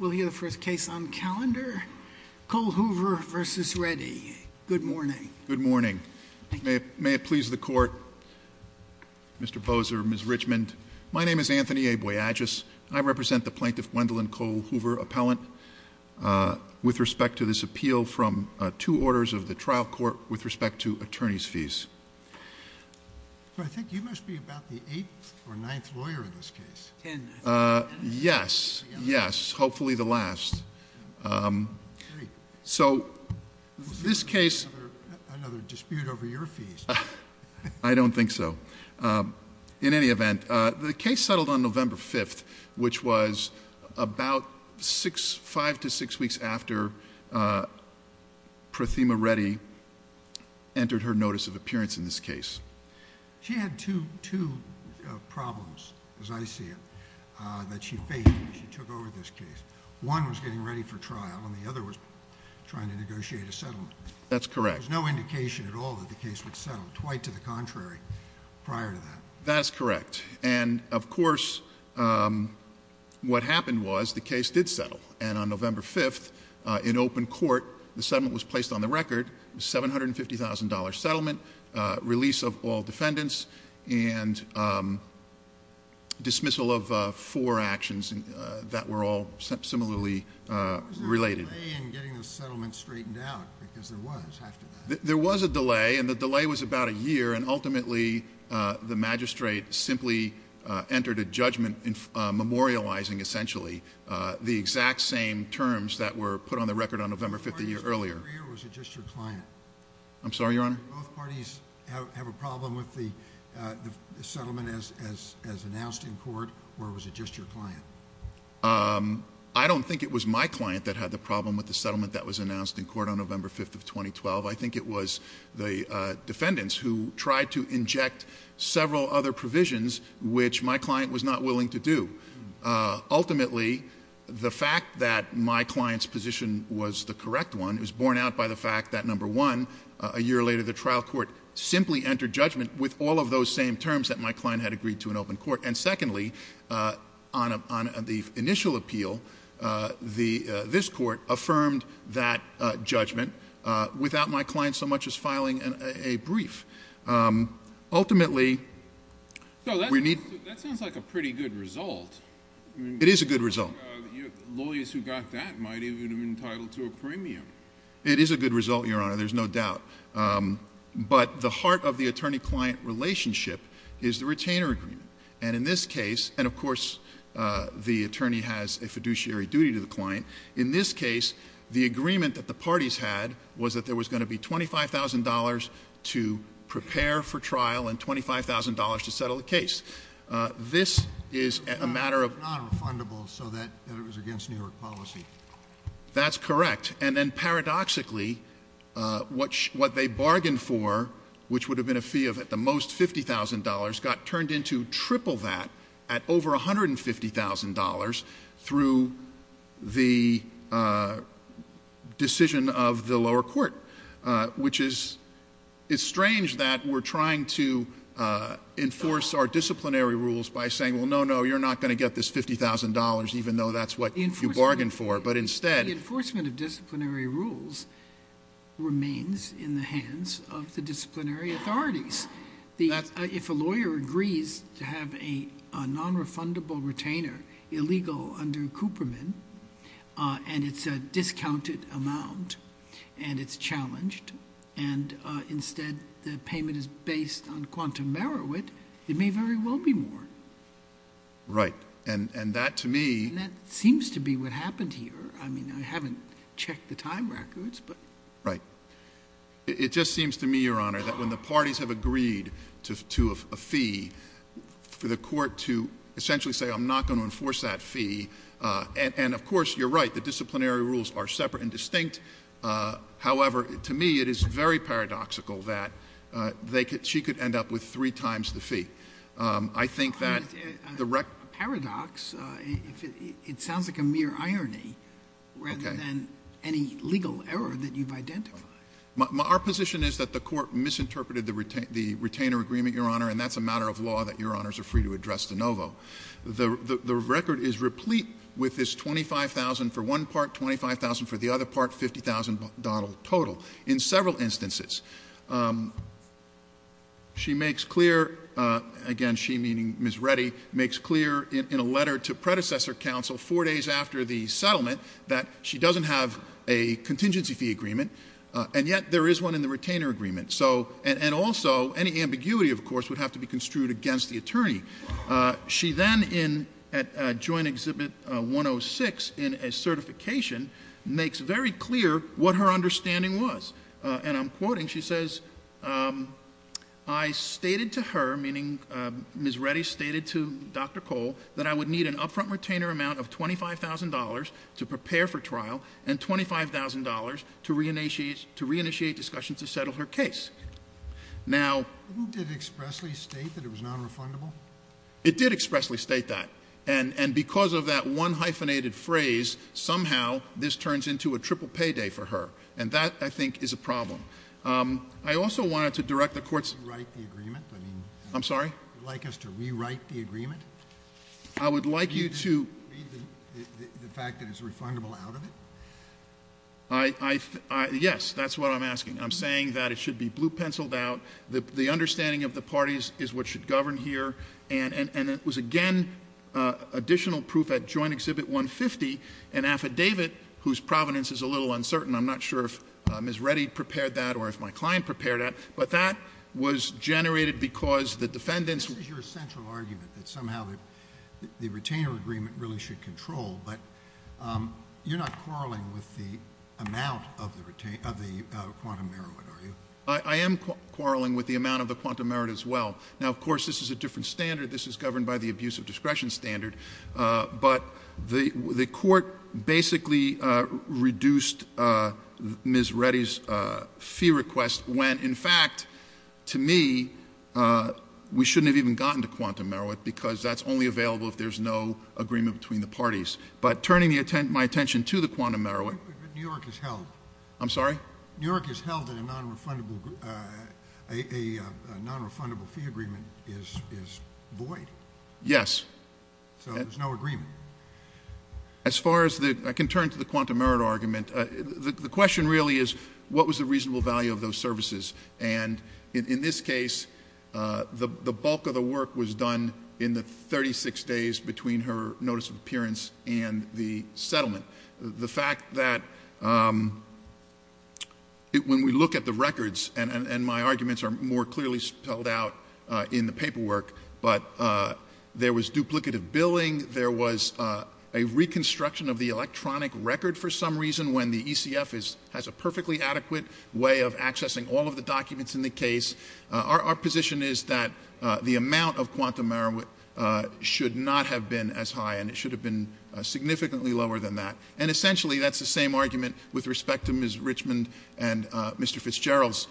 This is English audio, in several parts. We'll hear the first case on calendar. Cole-Hoover v. Reddy. Good morning. Good morning. May it please the Court, Mr. Boser, Ms. Richmond. My name is Anthony A. Boyagis, and I represent the plaintiff Gwendolyn Cole-Hoover appellant with respect to this appeal from two orders of the trial court with respect to attorney's fees. I think you must be about the eighth or ninth lawyer in this case. Ten. Yes, yes, hopefully the last. Three. So this case— Another dispute over your fees. I don't think so. In any event, the case settled on November 5th, which was about five to six weeks after Prathima Reddy entered her notice of appearance in this case. She had two problems, as I see it, that she faced when she took over this case. One was getting ready for trial, and the other was trying to negotiate a settlement. That's correct. There was no indication at all that the case would settle. Quite to the contrary, prior to that. That's correct. And, of course, what happened was the case did settle. And on November 5th, in open court, the settlement was placed on the record, $750,000 settlement, release of all defendants, and dismissal of four actions that were all similarly related. There was no delay in getting the settlement straightened out, because there was after that. There was a delay, and the delay was about a year, and ultimately the magistrate simply entered a judgment memorializing, essentially, the exact same terms that were put on the record on November 5th a year earlier. Was it just your client? I'm sorry, Your Honor? Did both parties have a problem with the settlement as announced in court, or was it just your client? I don't think it was my client that had the problem with the settlement that was announced in court on November 5th of 2012. I think it was the defendants who tried to inject several other provisions, which my client was not willing to do. Ultimately, the fact that my client's position was the correct one is borne out by the fact that, number one, a year later the trial court simply entered judgment with all of those same terms that my client had agreed to in open court. And, secondly, on the initial appeal, this court affirmed that judgment without my client so much as filing a brief. Ultimately, we need— That sounds like a pretty good result. It is a good result. Lawyers who got that might even have been entitled to a premium. It is a good result, Your Honor, there's no doubt. But the heart of the attorney-client relationship is the retainer agreement, and in this case—and, of course, the attorney has a fiduciary duty to the client. In this case, the agreement that the parties had was that there was going to be $25,000 to prepare for trial and $25,000 to settle the case. This is a matter of— It's not refundable, so that it was against New York policy. That's correct. And then, paradoxically, what they bargained for, which would have been a fee of at the most $50,000, got turned into triple that at over $150,000 through the decision of the lower court, which is—it's strange that we're trying to enforce our disciplinary rules by saying, well, no, no, you're not going to get this $50,000 even though that's what you bargained for, but instead— —remains in the hands of the disciplinary authorities. If a lawyer agrees to have a nonrefundable retainer illegal under Cooperman, and it's a discounted amount, and it's challenged, and instead the payment is based on quantum merit, it may very well be more. Right. And that, to me— Right. It just seems to me, Your Honor, that when the parties have agreed to a fee, for the court to essentially say, I'm not going to enforce that fee, and, of course, you're right, the disciplinary rules are separate and distinct. However, to me, it is very paradoxical that she could end up with three times the fee. I think that the— It sounds like a mere irony rather than any legal error that you've identified. Our position is that the court misinterpreted the retainer agreement, Your Honor, and that's a matter of law that Your Honors are free to address de novo. The record is replete with this $25,000 for one part, $25,000 for the other part, $50,000 total, in several instances. She makes clear—again, she, meaning Ms. Reddy, makes clear in a letter to predecessor counsel four days after the settlement that she doesn't have a contingency fee agreement, and yet there is one in the retainer agreement. And also, any ambiguity, of course, would have to be construed against the attorney. She then, at Joint Exhibit 106, in a certification, makes very clear what her understanding was. And I'm quoting. She says, I stated to her, meaning Ms. Reddy stated to Dr. Cole, that I would need an upfront retainer amount of $25,000 to prepare for trial and $25,000 to reinitiate discussions to settle her case. Now— Who did expressly state that it was nonrefundable? It did expressly state that. And because of that one hyphenated phrase, somehow this turns into a triple payday for her. And that, I think, is a problem. I also wanted to direct the Court's— Rewrite the agreement? I'm sorry? Would you like us to rewrite the agreement? I would like you to— Read the fact that it's refundable out of it? Yes, that's what I'm asking. I'm saying that it should be blue-penciled out. The understanding of the parties is what should govern here. And it was, again, additional proof at Joint Exhibit 150, an affidavit whose provenance is a little uncertain. I'm not sure if Ms. Reddy prepared that or if my client prepared that. But that was generated because the defendants— that somehow the retainer agreement really should control. But you're not quarreling with the amount of the quantum merit, are you? I am quarreling with the amount of the quantum merit as well. Now, of course, this is a different standard. This is governed by the abuse of discretion standard. But the court basically reduced Ms. Reddy's fee request when, in fact, to me, we shouldn't have even gotten to quantum merit because that's only available if there's no agreement between the parties. But turning my attention to the quantum merit— But New York has held. I'm sorry? New York has held that a nonrefundable fee agreement is void. Yes. So there's no agreement. As far as the—I can turn to the quantum merit argument. The question really is what was the reasonable value of those services? And in this case, the bulk of the work was done in the 36 days between her notice of appearance and the settlement. The fact that when we look at the records—and my arguments are more clearly spelled out in the paperwork— there was duplicative billing, there was a reconstruction of the electronic record for some reason when the ECF has a perfectly adequate way of accessing all of the documents in the case. Our position is that the amount of quantum merit should not have been as high, and it should have been significantly lower than that. And essentially, that's the same argument with respect to Ms. Richmond and Mr. Fitzgerald's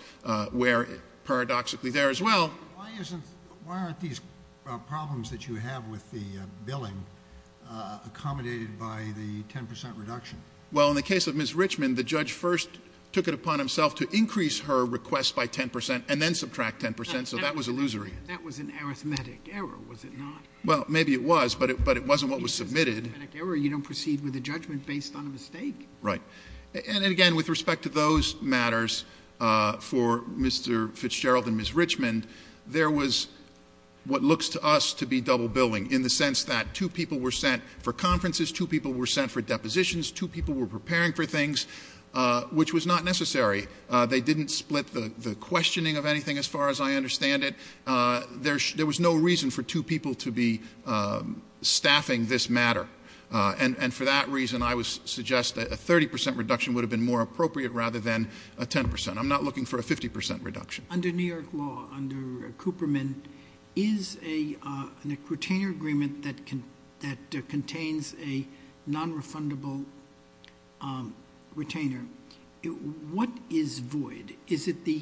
where paradoxically there as well— So what are the problems that you have with the billing accommodated by the 10 percent reduction? Well, in the case of Ms. Richmond, the judge first took it upon himself to increase her request by 10 percent and then subtract 10 percent, so that was illusory. That was an arithmetic error, was it not? Well, maybe it was, but it wasn't what was submitted. If it's an arithmetic error, you don't proceed with a judgment based on a mistake. Right. And again, with respect to those matters for Mr. Fitzgerald and Ms. Richmond, there was what looks to us to be double billing in the sense that two people were sent for conferences, two people were sent for depositions, two people were preparing for things, which was not necessary. They didn't split the questioning of anything as far as I understand it. There was no reason for two people to be staffing this matter, and for that reason, I would suggest that a 30 percent reduction would have been more appropriate rather than a 10 percent. I'm not looking for a 50 percent reduction. Under New York law, under Cooperman, is a retainer agreement that contains a nonrefundable retainer, what is void? Is it the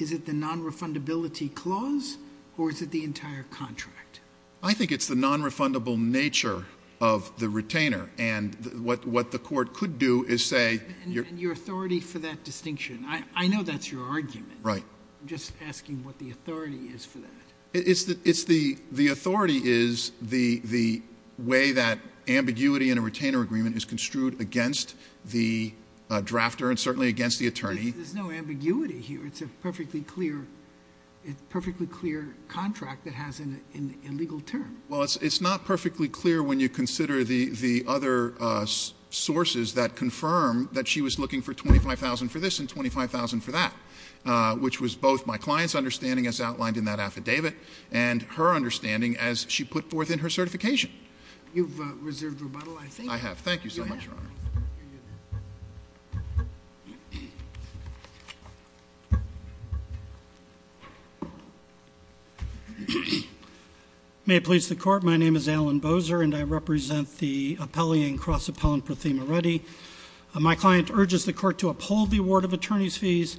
nonrefundability clause or is it the entire contract? I think it's the nonrefundable nature of the retainer. And what the Court could do is say you're— And your authority for that distinction. I know that's your argument. Right. I'm just asking what the authority is for that. It's the authority is the way that ambiguity in a retainer agreement is construed against the drafter and certainly against the attorney. There's no ambiguity here. It's a perfectly clear contract that has an illegal term. Well, it's not perfectly clear when you consider the other sources that confirm that she was looking for $25,000 for this and $25,000 for that, which was both my client's understanding as outlined in that affidavit and her understanding as she put forth in her certification. You've reserved rebuttal, I think. I have. Thank you so much, Your Honor. Thank you. May it please the Court, my name is Alan Boser and I represent the appellee in cross-appellant Prathima Reddy. My client urges the Court to uphold the award of attorney's fees,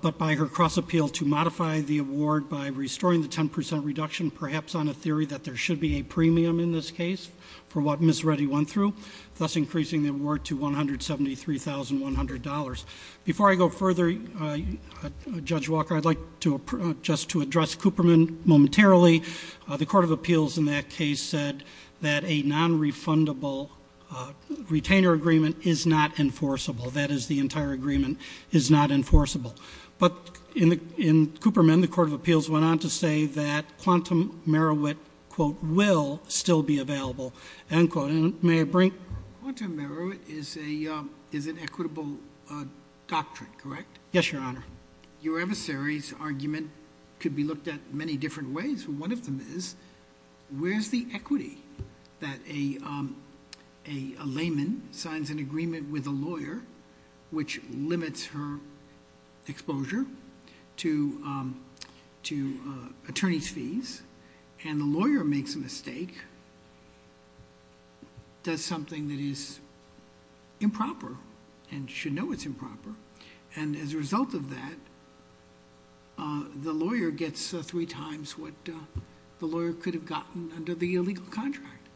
but by her cross-appeal to modify the award by restoring the 10 percent reduction, perhaps on a theory that there should be a premium in this case for what Ms. Reddy went through, thus increasing the award to $173,100. Before I go further, Judge Walker, I'd like just to address Cooperman momentarily. The Court of Appeals in that case said that a non-refundable retainer agreement is not enforceable. That is, the entire agreement is not enforceable. But in Cooperman, the Court of Appeals went on to say that Quantum Merowit, quote, will still be available, end quote. Quantum Merowit is an equitable doctrine, correct? Yes, Your Honor. Your adversary's argument could be looked at many different ways. One of them is, where's the equity that a layman signs an agreement with a lawyer, which limits her exposure to attorney's fees, and the lawyer makes a mistake, does something that is improper and should know it's improper, and as a result of that, the lawyer gets three times what the lawyer could have gotten under the illegal contract.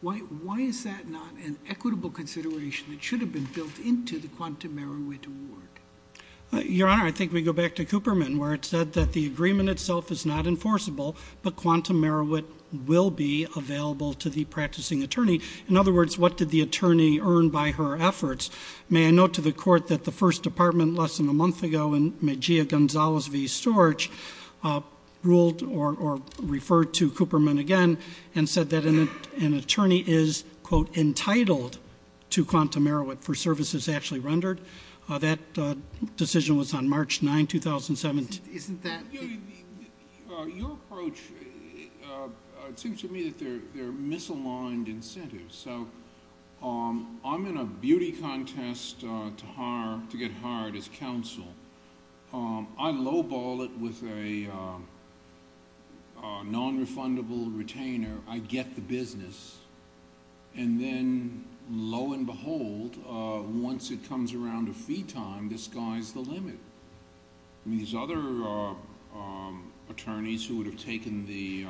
Why is that not an equitable consideration that should have been built into the Quantum Merowit award? Your Honor, I think we go back to Cooperman, where it said that the agreement itself is not enforceable, but Quantum Merowit will be available to the practicing attorney. In other words, what did the attorney earn by her efforts? May I note to the Court that the First Department, less than a month ago, when Magia Gonzalez v. Storch ruled or referred to Cooperman again, and said that an attorney is, quote, entitled to Quantum Merowit for services actually rendered. That decision was on March 9, 2017. Your approach seems to me that there are misaligned incentives. I'm in a beauty contest to get hired as counsel. I lowball it with a nonrefundable retainer. I get the business, and then, lo and behold, once it comes around to fee time, the sky's the limit. These other attorneys who would have taken the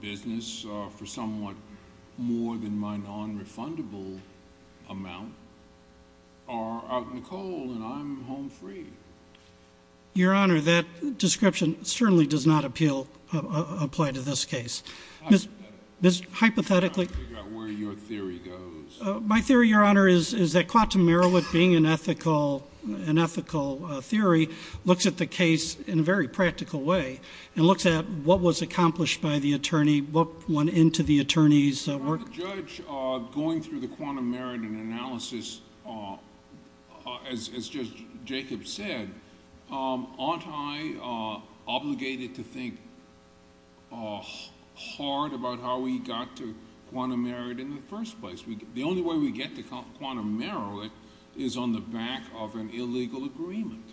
business for somewhat more than my nonrefundable amount are out in the cold, and I'm home free. Your Honor, that description certainly does not apply to this case. Hypothetically. Hypothetically. I'm trying to figure out where your theory goes. My theory, Your Honor, is that Quantum Merowit, being an ethical theory, looks at the case in a very practical way and looks at what was accomplished by the attorney, what went into the attorney's work. Aren't the judge, going through the Quantum Merowit analysis, as Judge Jacobs said, aren't I obligated to think hard about how we got to Quantum Merowit in the first place? The only way we get to Quantum Merowit is on the back of an illegal agreement.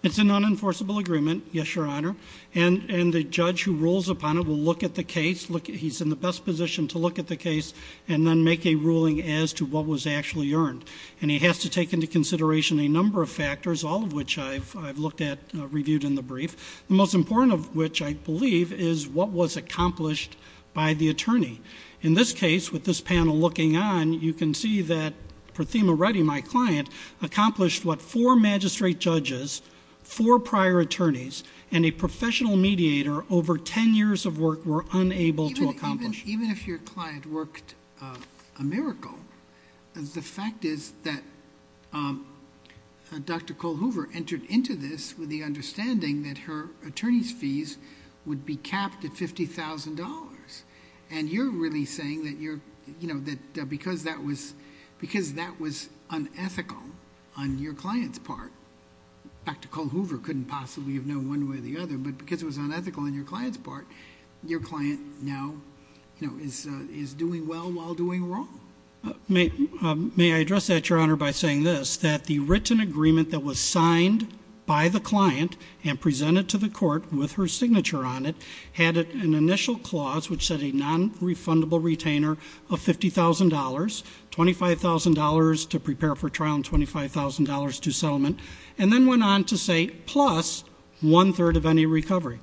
It's an unenforceable agreement, yes, Your Honor, and the judge who rules upon it will look at the case. He's in the best position to look at the case and then make a ruling as to what was actually earned, and he has to take into consideration a number of factors, all of which I've looked at, reviewed in the brief, the most important of which, I believe, is what was accomplished by the attorney. In this case, with this panel looking on, you can see that Prathima Reddy, my client, accomplished what four magistrate judges, four prior attorneys, and a professional mediator over ten years of work were unable to accomplish. Even if your client worked a miracle, the fact is that Dr. Cole Hoover entered into this with the understanding that her attorney's fees would be capped at $50,000, and you're really saying that because that was unethical on your client's part, Dr. Cole Hoover couldn't possibly have known one way or the other, but because it was unethical on your client's part, your client now is doing well while doing wrong. May I address that, Your Honor, by saying this, that the written agreement that was signed by the client and presented to the court with her signature on it had an initial clause which said a nonrefundable retainer of $50,000, $25,000 to prepare for trial and $25,000 to settlement, and then went on to say plus one-third of any recovery.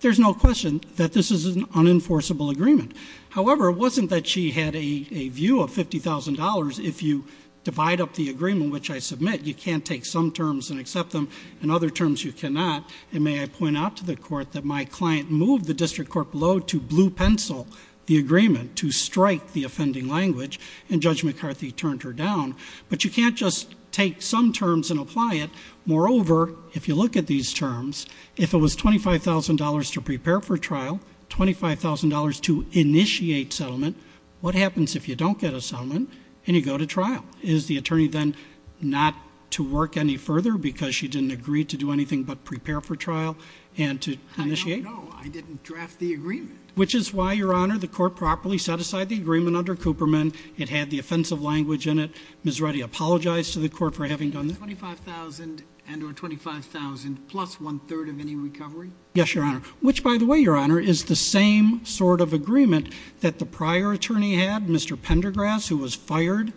There's no question that this is an unenforceable agreement. However, it wasn't that she had a view of $50,000. If you divide up the agreement, which I submit, you can't take some terms and accept them, in other terms you cannot, and may I point out to the court that my client moved the district court below to blue pencil the agreement to strike the offending language, and Judge McCarthy turned her down, but you can't just take some terms and apply it. Moreover, if you look at these terms, if it was $25,000 to prepare for trial, $25,000 to initiate settlement, what happens if you don't get a settlement and you go to trial? Is the attorney then not to work any further because she didn't agree to do anything but prepare for trial and to initiate? I don't know. I didn't draft the agreement. Which is why, Your Honor, the court properly set aside the agreement under Cooperman. It had the offensive language in it. Ms. Reddy apologized to the court for having done that. $25,000 and or $25,000 plus one-third of any recovery? Yes, Your Honor, which, by the way, Your Honor, is the same sort of agreement that the prior attorney had, Mr. Pendergrass, who was fired.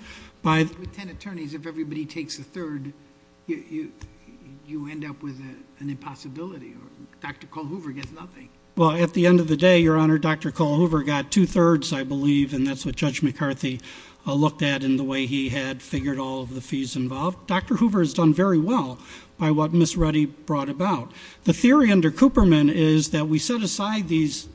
With ten attorneys, if everybody takes a third, you end up with an impossibility. Dr. Cull Hoover gets nothing. Well, at the end of the day, Your Honor, Dr. Cull Hoover got two-thirds, I believe, and that's what Judge McCarthy looked at in the way he had figured all of the fees involved. Dr. Hoover has done very well by what Ms. Reddy brought about. The theory under Cooperman is that we set aside these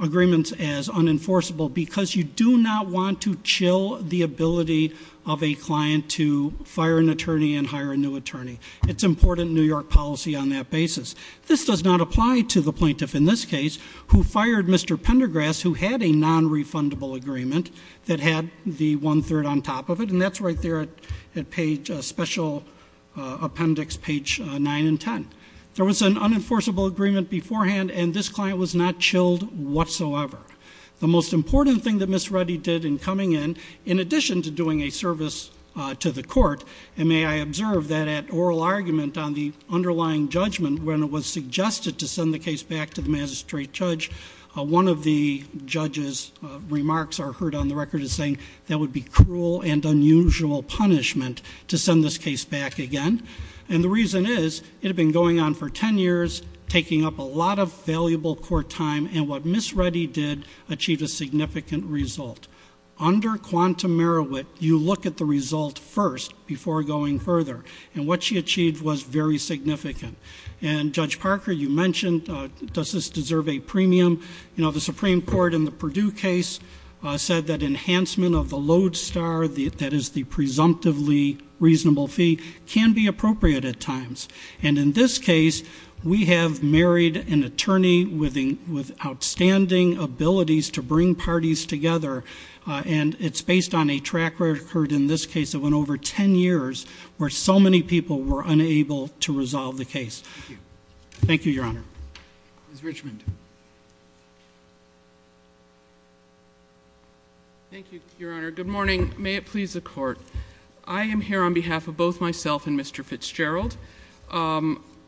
agreements as unenforceable because you do not want to chill the ability of a client to fire an attorney and hire a new attorney. It's important New York policy on that basis. This does not apply to the plaintiff in this case, who fired Mr. Pendergrass, who had a non-refundable agreement that had the one-third on top of it, and that's right there at Special Appendix page 9 and 10. There was an unenforceable agreement beforehand, and this client was not chilled whatsoever. The most important thing that Ms. Reddy did in coming in, in addition to doing a service to the court, and may I observe that at oral argument on the underlying judgment, when it was suggested to send the case back to the magistrate judge, one of the judge's remarks I heard on the record is saying, that would be cruel and unusual punishment to send this case back again. And the reason is, it had been going on for 10 years, taking up a lot of valuable court time, and what Ms. Reddy did achieved a significant result. Under Quantum Merowit, you look at the result first before going further, and what she achieved was very significant. And Judge Parker, you mentioned, does this deserve a premium? You know, the Supreme Court in the Purdue case said that enhancement of the load star, that is the presumptively reasonable fee, can be appropriate at times. And in this case, we have married an attorney with outstanding abilities to bring parties together, and it's based on a track record in this case that went over 10 years, where so many people were unable to resolve the case. Thank you, Your Honor. Ms. Richmond. Thank you, Your Honor. Good morning. May it please the Court. I am here on behalf of both myself and Mr. Fitzgerald.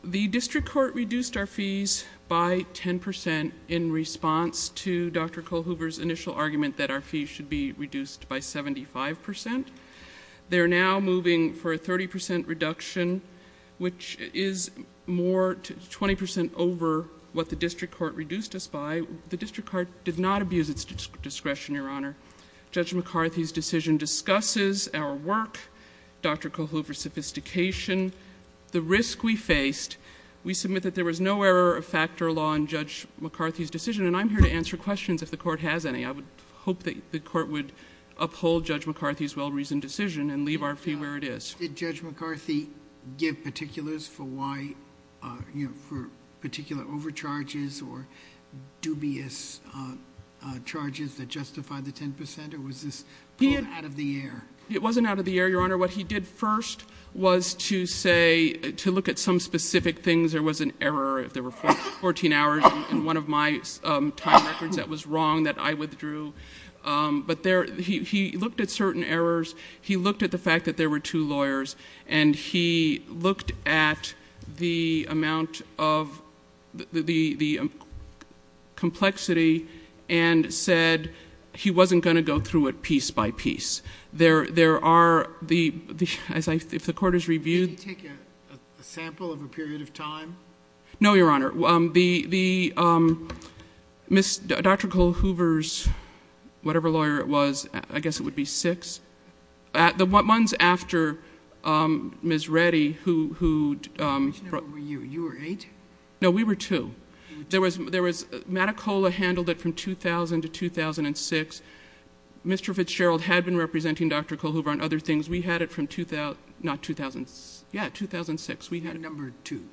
The district court reduced our fees by 10% in response to Dr. Kohlhuber's initial argument that our fees should be reduced by 75%. They are now moving for a 30% reduction, which is 20% over what the district court reduced us by. The district court did not abuse its discretion, Your Honor. Judge McCarthy's decision discusses our work, Dr. Kohlhuber's sophistication, the risk we faced. We submit that there was no error of factor law in Judge McCarthy's decision, and I'm here to answer questions if the Court has any. I would hope that the Court would uphold Judge McCarthy's well-reasoned decision and leave our fee where it is. Did Judge McCarthy give particulars for particular overcharges or dubious charges that justify the 10%? Or was this pulled out of the air? It wasn't out of the air, Your Honor. What he did first was to say, to look at some specific things. There was an error if there were 14 hours in one of my time records that was wrong, that I withdrew. But he looked at certain errors. He looked at the fact that there were two lawyers, and he looked at the amount of the complexity and said he wasn't going to go through it piece by piece. There are the... if the Court has reviewed... No, Your Honor. Dr. Cole Hoover's whatever lawyer it was, I guess it would be six. The ones after Ms. Reddy who... You were eight? No, we were two. There was... Matticola handled it from 2000 to 2006. Mr. Fitzgerald had been representing Dr. Cole Hoover on other things. We had it from... not 2000. Yeah, 2006. We had it. And you were number two.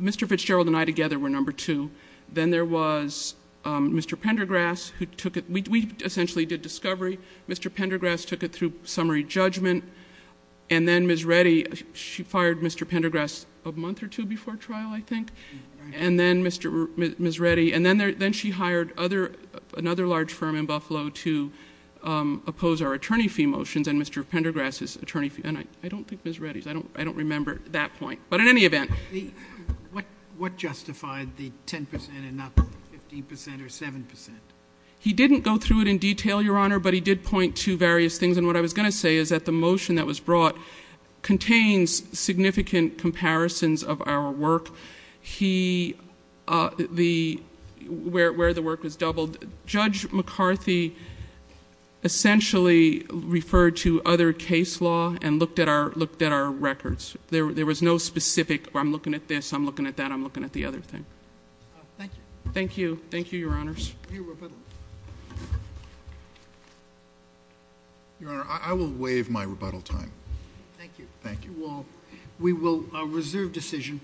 Mr. Fitzgerald and I together were number two. Then there was Mr. Pendergrass who took it. We essentially did discovery. Mr. Pendergrass took it through summary judgment. And then Ms. Reddy, she fired Mr. Pendergrass a month or two before trial, I think. And then Ms. Reddy... And then she hired another large firm in Buffalo to oppose our attorney fee motions, and Mr. Pendergrass's attorney fee... I don't think it was Ms. Reddy's. I don't remember that point. But in any event... What justified the 10% and not the 15% or 7%? He didn't go through it in detail, Your Honor, but he did point to various things. And what I was going to say is that the motion that was brought contains significant comparisons of our work. He... where the work was doubled. Judge McCarthy essentially referred to other case law and looked at our records. There was no specific, I'm looking at this, I'm looking at that, I'm looking at the other thing. Thank you. Thank you. Thank you, Your Honors. Your Honor, I will waive my rebuttal time. Thank you. Thank you all. We will reserve decision.